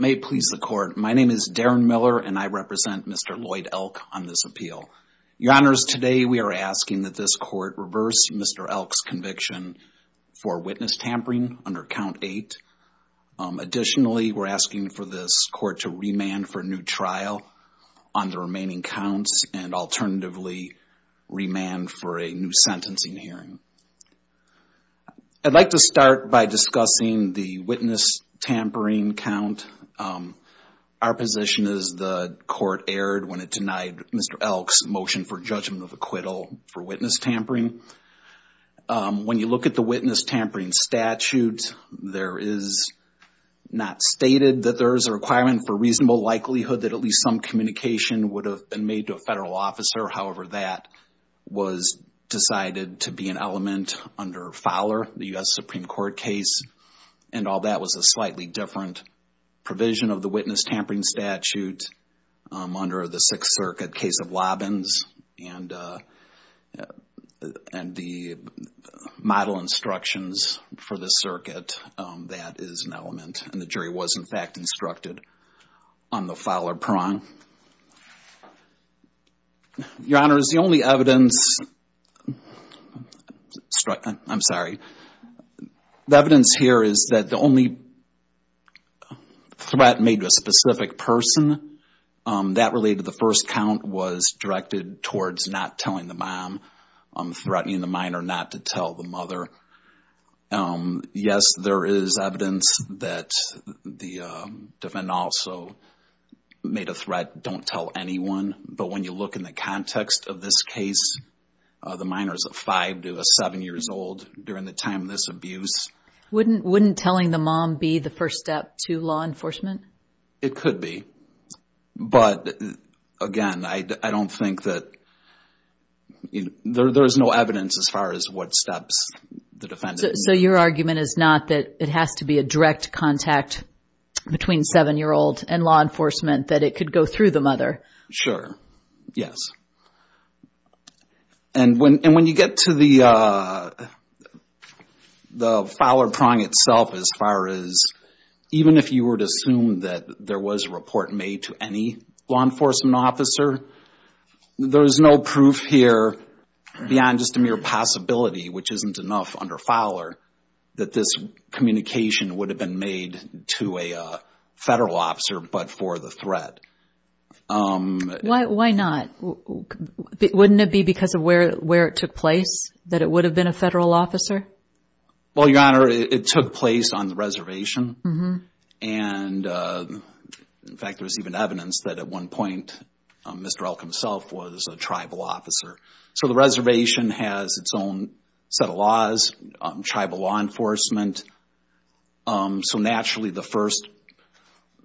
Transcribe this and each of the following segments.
May it please the court, my name is Darren Miller and I represent Mr. Lloyd Elk on this appeal. Your honors, today we are asking that this court reverse Mr. Elk's conviction for witness tampering under count eight. Additionally, we're asking for this court to remand for new trial on the remaining counts and alternatively remand for a new sentencing hearing. I'd like to start by discussing the witness tampering count. Our position is the court erred when it denied Mr. Elk's motion for judgment of acquittal for witness tampering. When you look at the witness tampering statute, there is not stated that there is a requirement for reasonable likelihood that at least some communication would have been made to a federal officer. However, that was decided to be an element under Fowler, the U.S. Supreme Court case and all that was a slightly different provision of the witness tampering statute under the Sixth Circuit case of Lobbins and the model instructions for the circuit that is an element and the jury was in fact instructed on the Fowler prong. Your honors, the only threat made to a specific person that related to the first count was directed towards not telling the mom, threatening the minor not to tell the mother. Yes, there is evidence that the defendant also made a threat, don't tell anyone, but when you look in the context of this case, the minor is a five to a seven years old during the time of this abuse. Wouldn't telling the mom be the first step to law enforcement? It could be, but again, I don't think that there is no evidence as far as what steps the defendant... So your argument is not that it has to be a direct contact between seven year old and law enforcement that it could go through the mother? Sure, yes. And when you get to the Fowler prong itself as far as even if you were to assume that there was a report made to any law enforcement officer, there is no proof here beyond just a mere possibility, which isn't enough under Fowler, that this communication would have been made to a federal officer, but for the threat. Why not? Wouldn't it be because of where it took place that it would have been a federal officer? Well, your honor, it took place on the reservation. In fact, there's even evidence that at one point, Mr. Elk himself was a tribal officer. So the reservation has its own set of laws, tribal law enforcement. So naturally the first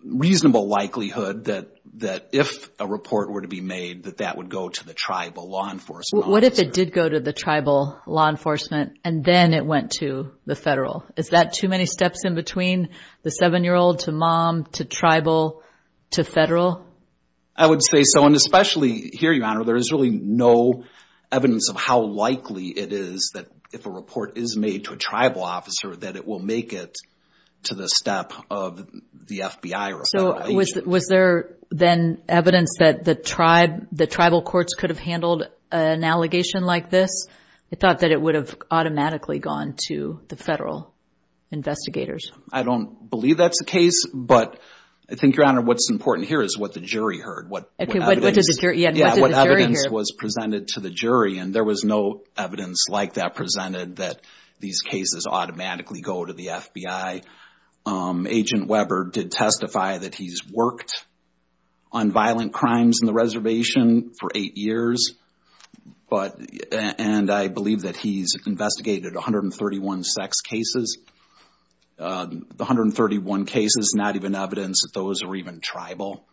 reasonable likelihood that if a report were to be made, that that would go to the tribal law enforcement officer. What if it did go to the tribal law enforcement and then it went to the federal? Is that too many steps in between the seven year old to mom to tribal to federal? I would say so. And especially here, your honor, there is really no evidence of how likely it is that if a report is made to a tribal officer, that it will make it to the step of the FBI. So was there then evidence that the tribe, the tribal courts could have handled an allegation like this? I thought that it would have automatically gone to the federal investigators. I don't believe that's the case, but I think your honor, what's important here is what the jury heard. What evidence was presented to the jury, and there was no evidence like that presented that these cases automatically go to the FBI. Agent Weber did testify that he's worked on violent crimes in the reservation for eight years, and I believe that he's investigated 131 sex cases. The 131 cases, not even evidence that those are even tribal.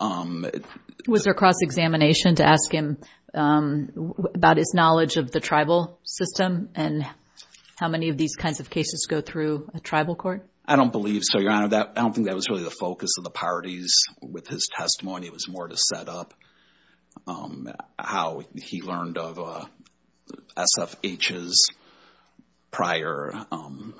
Was there cross examination to ask him about his knowledge of the tribal system and how many of these kinds of cases go through a tribal court? I don't believe so, your honor. I don't think that was really the focus of the parties with his testimony. It was more to set up how he learned of SFH's prior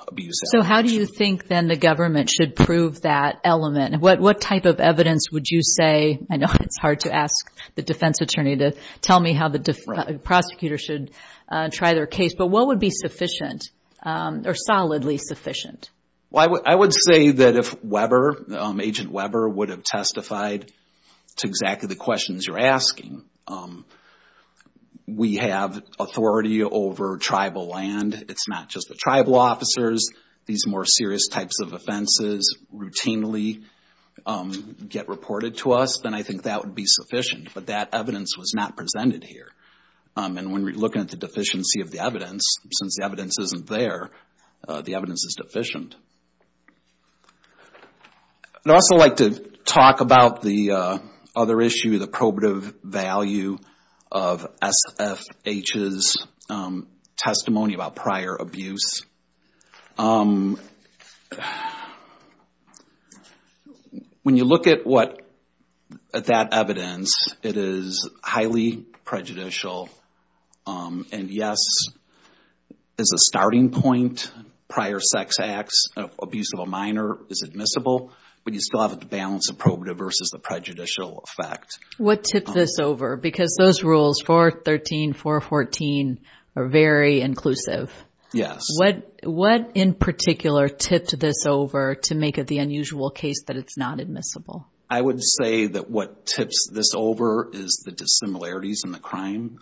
abuse. So how do you think then the government should prove that element? What type of evidence would you say, I know it's hard to ask the defense attorney to tell me how the prosecutor should try their case, but what would be sufficient or solidly sufficient? I would say that if Weber, Agent Weber would have testified to exactly the questions you're asking, we have authority over tribal land. It's not just the tribal officers. These more serious types of offenses routinely get reported to us, then I think that would be sufficient, but that evidence was not presented here. And when we're looking at the deficiency of the evidence, since the evidence isn't there, the evidence is deficient. I'd also like to talk about the other issue, the probative value of SFH's testimony about prior abuse. When you look at that evidence, it is highly prejudicial and yes, as a starting point, prior sex acts of abuse of a minor is admissible, but you still have to balance the probative versus the prejudicial effect. What tips this over? Because those rules 413, 414 are very inclusive. Yes. What in particular tips this over to make it the unusual case that it's not admissible? I would say that what tips this over is the dissimilarities in the crime,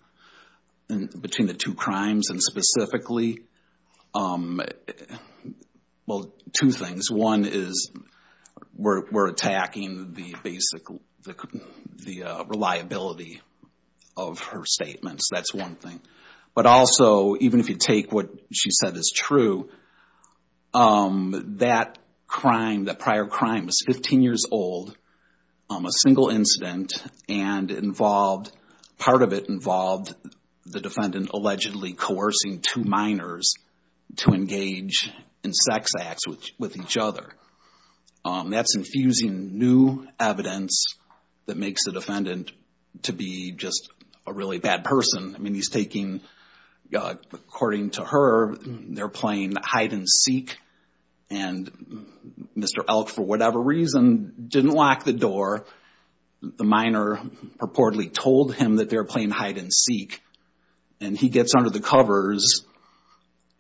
between the two crimes and specifically, well, two things. One is we're attacking the basic reliability of her statements. That's one thing. But also, even if you take what she said is true, that crime, that prior crime is 15 years old, a single incident, and involved, part of it involved the defendant allegedly coercing two minors to engage in sex acts with each other. That's infusing new evidence that makes the defendant to be just a really bad person. I mean, he's taking, according to her, they're playing hide and seek and Mr. Elk, for whatever reason, didn't lock the door. The minor purportedly told him that they're playing hide and seek. And he gets under the covers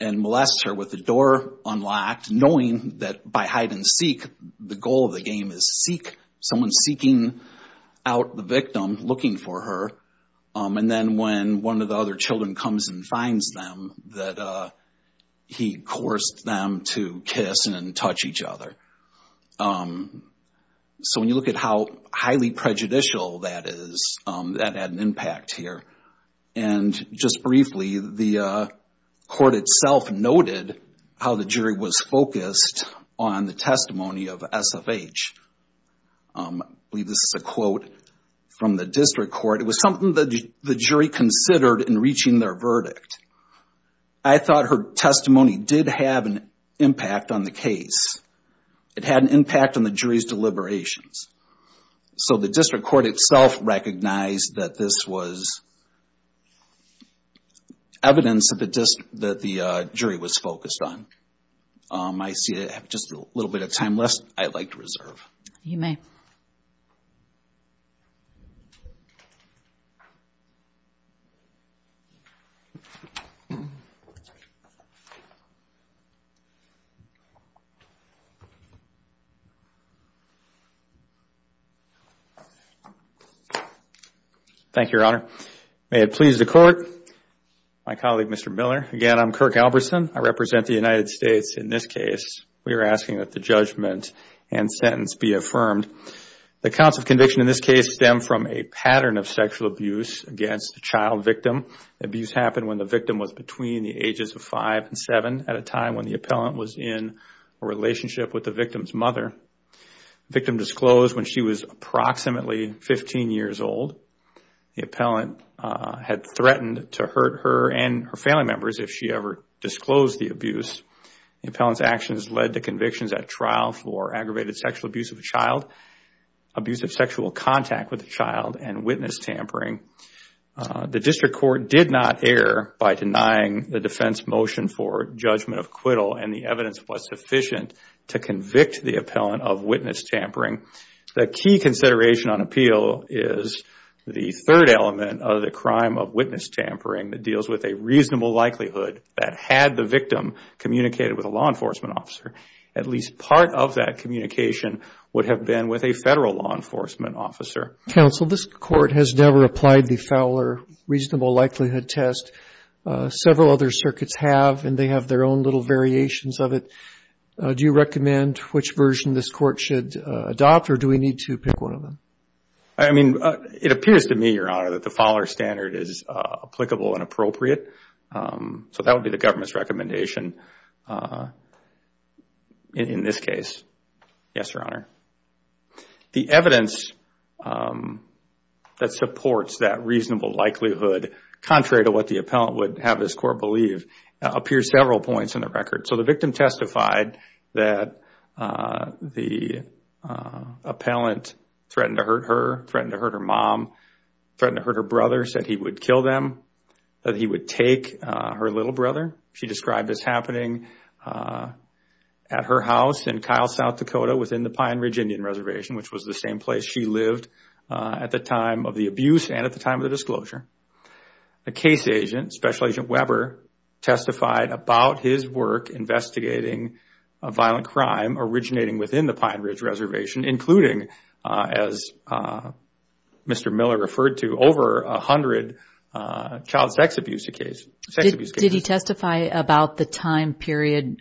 and molests her with the door unlocked, knowing that by hide and seek, the goal of the game is seek. Someone's seeking out the victim, looking for her. And then when one of the other children comes and finds them, that he coerced them to kiss and touch each other. So when you look at how highly prejudicial that is, that had an impact here. And just briefly, the court itself noted how the jury was focused on the testimony of SFH. I believe this is a quote from the district court. It was something that the jury considered in their verdict. I thought her testimony did have an impact on the case. It had an impact on the jury's deliberations. So the district court itself recognized that this was evidence that the jury was focused on. I see I have just a little bit of time left. I'd like to reserve. You may. Thank you, Your Honor. May it please the court. My colleague, Mr. Miller. Again, I'm Kirk Alberson. I represent the United States. In this case, we are asking that the judgment and sentence be affirmed. The counts of conviction in this case stem from a pattern of sexual abuse against the child victim. Abuse happened when the victim was between the ages of five and seven at a time when the appellant was in a relationship with the victim's mother. The victim disclosed when she was approximately 15 years old. The appellant had threatened to hurt her and her family members if she ever disclosed the abuse. The appellant's actions led to convictions at trial for aggravated sexual abuse of a child, abuse of sexual contact with a child, and witness tampering. The district court did not err by denying the defense motion for judgment of acquittal and the evidence was sufficient to convict the appellant of witness tampering. The key consideration on appeal is the third element of the crime of witness tampering that deals with a reasonable likelihood that had the victim communicated with a law enforcement officer. At least part of that communication would have been with a federal law enforcement officer. Counsel, this court has never applied the Fowler reasonable likelihood test. Several other circuits have and they have their own little variations of it. Do you recommend which version this court should adopt or do we need to pick one of them? I mean, it appears to me, Your Honor, that the Fowler standard is applicable and appropriate. So that would be the government's recommendation in this case. Yes, Your Honor. The evidence that supports that reasonable likelihood, contrary to what the appellant would have this court believe, appears several points in the record. So the victim testified that the appellant threatened to hurt her, threatened to hurt her mom, threatened to hurt her brother, said he would kill them, that he would take her little brother. She described this happening at her house in Kyle, South Dakota within the Pine Ridge Indian Reservation, which was the same place she lived at the time of the abuse and at the time of the testified about his work investigating a violent crime originating within the Pine Ridge Reservation, including, as Mr. Miller referred to, over a hundred child sex abuse cases. Did he testify about the time period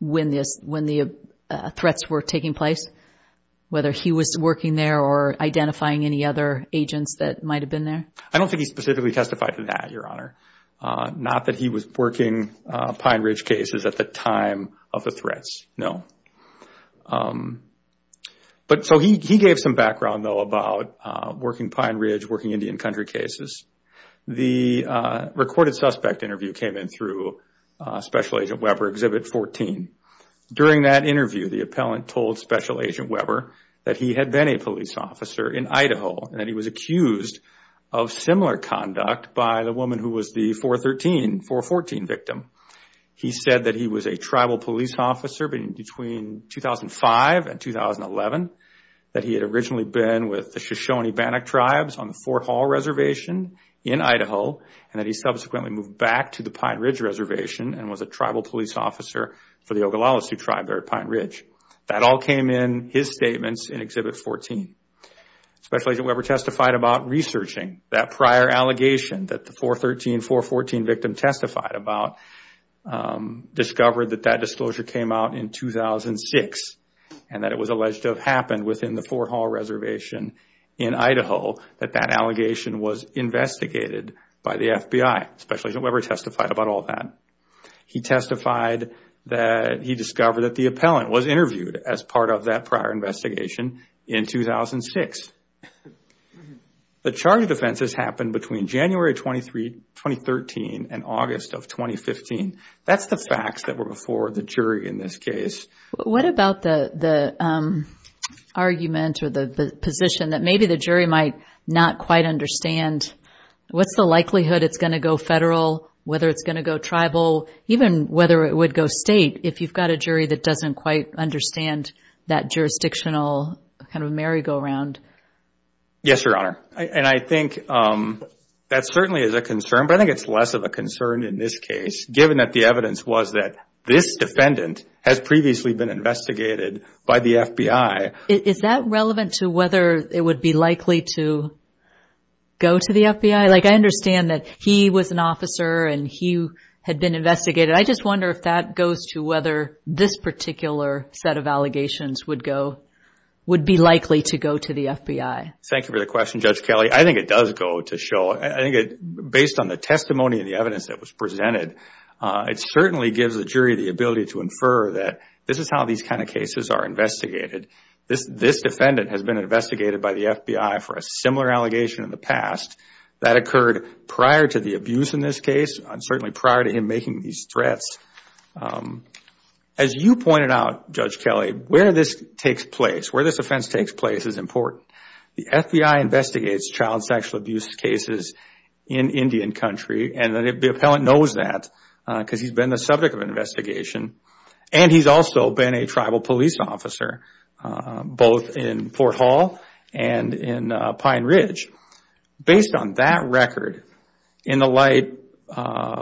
when the threats were taking place, whether he was working there or identifying any other agents that might have been there? I don't think he specifically testified to that, Your Honor. Not that he was working Pine Ridge cases at the time of the threats, no. But so he gave some background, though, about working Pine Ridge, working Indian country cases. The recorded suspect interview came in through Special Agent Weber Exhibit 14. During that interview, the appellant told Special Agent Weber that he had been a police officer in Idaho and that he was accused of similar conduct by the woman who was the 413, 414 victim. He said that he was a tribal police officer between 2005 and 2011, that he had originally been with the Shoshone-Bannock Tribes on the Fort Hall Reservation in Idaho, and that he subsequently moved back to the Pine Ridge Reservation and was a tribal police officer for the Oglala Sioux Tribe there at Pine Ridge. That all came in his statements in Exhibit 14. Special Agent Weber testified about researching that prior allegation that the 413, 414 victim testified about, discovered that that disclosure came out in 2006, and that it was alleged to have happened within the Fort Hall Reservation in Idaho, that that allegation was investigated by the FBI. Special Agent Weber testified about all that. He testified that he discovered that the appellant was interviewed as part of that prior investigation in 2006. The charge of offenses happened between January 2013 and August of 2015. That's the facts that were before the jury in this case. What about the argument or the position that maybe the jury might not quite understand? What's the likelihood it's going to go tribal, even whether it would go state, if you've got a jury that doesn't quite understand that jurisdictional, kind of merry-go-round? Yes, Your Honor. And I think that certainly is a concern, but I think it's less of a concern in this case, given that the evidence was that this defendant has previously been investigated by the FBI. Is that relevant to whether it would be likely to go to the FBI? Like, I understand that he was an officer and he had been investigated. I just wonder if that goes to whether this particular set of allegations would go, would be likely to go to the FBI. Thank you for the question, Judge Kelley. I think it does go to show, I think it, based on the testimony and the evidence that was presented, it certainly gives the jury the ability to infer that this is how these kind of cases are investigated. This defendant has been investigated by the FBI for a similar allegation in the past that occurred prior to the abuse in this case, and certainly prior to him making these threats. As you pointed out, Judge Kelley, where this takes place, where this offense takes place is important. The FBI investigates child sexual abuse cases in Indian country, and the appellant knows that because he's been the subject of an investigation, and he's also been a tribal police officer, both in Fort Hall and in Pine Ridge. Based on that record, in the light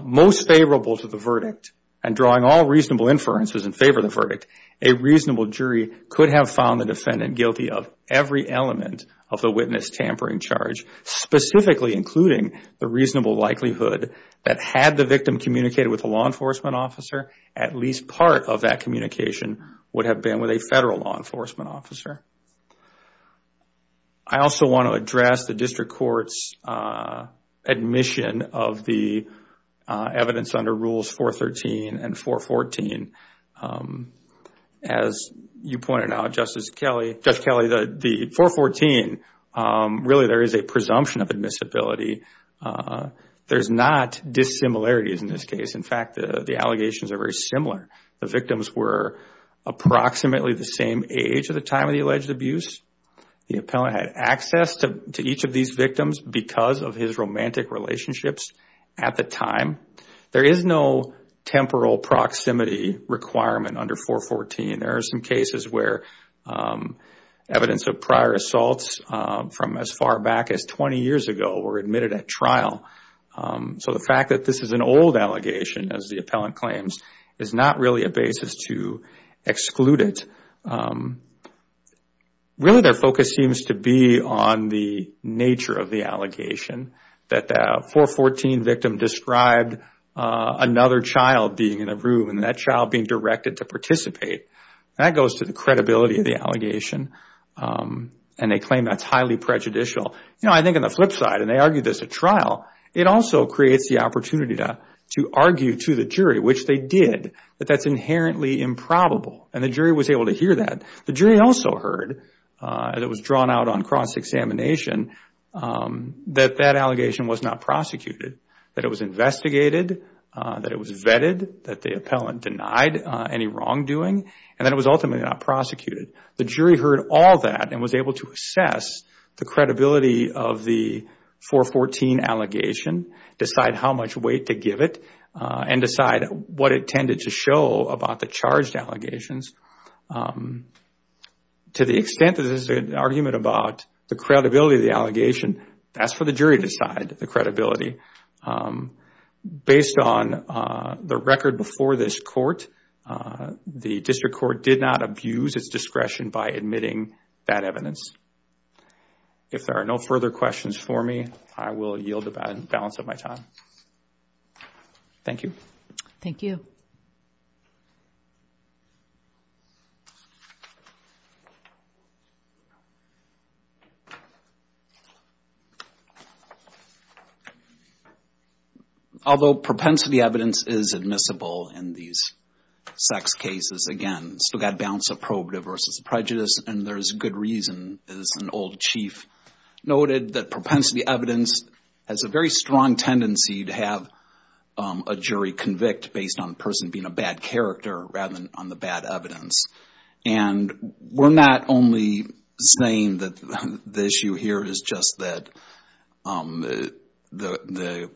most favorable to the verdict, and drawing all reasonable inferences in favor of the verdict, a reasonable jury could have found the defendant guilty of every element of the witness tampering charge, specifically including the reasonable likelihood that had the victim communicated with a law enforcement officer, at least part of that communication would have been with a federal law enforcement officer. I also want to address the district court's admission of the evidence under Rules 413 and 414. As you pointed out, Justice Kelley, Judge Kelley, the 414, really there is a presumption of admissibility. There's not dissimilarities in this case. In fact, the allegations are very similar. The victims were approximately the same age at the time of the alleged abuse. The appellant had access to each of these victims because of his romantic relationships at the time. There is no temporal proximity requirement under 414. There are some cases where evidence of prior assaults from as far back as 20 years ago were admitted at trial. The fact that this is an old allegation, as the appellant claims, is not really a basis to exclude it. Really, their focus seems to be on the nature of the allegation, that the 414 victim described another child being in a room and that child being directed to participate. That goes to the credibility of the allegation, and they claim that's highly prejudicial. I think on the flip side, and they argue this at trial, it also creates the opportunity to argue to the jury, which they did, that that's inherently improbable. The jury was able to hear that. The jury also heard, and it was drawn out on cross-examination, that that allegation was not prosecuted, that it was investigated, that it was vetted, that the appellant denied any wrongdoing, and that it was ultimately not prosecuted. The jury heard all that and was able to assess the credibility of the 414 allegation, decide how much weight to give it, and decide what it tended to show about the charged allegations. To the extent that this is an argument about the credibility of the allegation, that's for the jury to decide the credibility. Based on the record before this court, the district court did not abuse its discretion by admitting that evidence. If there are no further questions for me, I will yield the balance of my time. Thank you. Thank you. Although propensity evidence is admissible in these sex cases, again, still got a balance of probative versus prejudice, and there's good reason, as an old chief noted, that propensity evidence has a very strong tendency to have a jury convict based on the person being a bad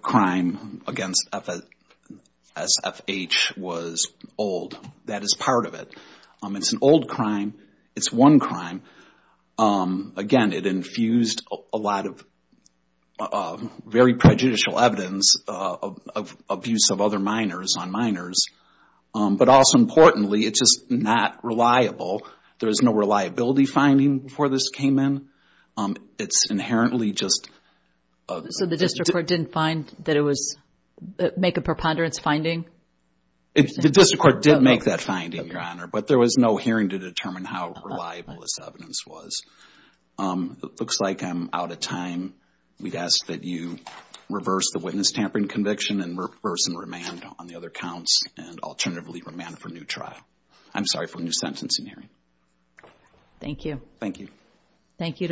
crime against SFH was old. That is part of it. It's an old crime. It's one crime. Again, it infused a lot of very prejudicial evidence of abuse of other minors on minors. But also importantly, it's just not reliable. There was no reliability finding before this came in. It's inherently just... So the district court didn't find that it was, make a preponderance finding? The district court did make that finding, Your Honor, but there was no hearing to determine how reliable this evidence was. It looks like I'm out of time. We'd ask that you reverse the witness tampering conviction and reverse and remand on the other counts and alternatively remand for new trial. I'm sorry, for new sentencing hearing. Thank you. Thank you. Thank you.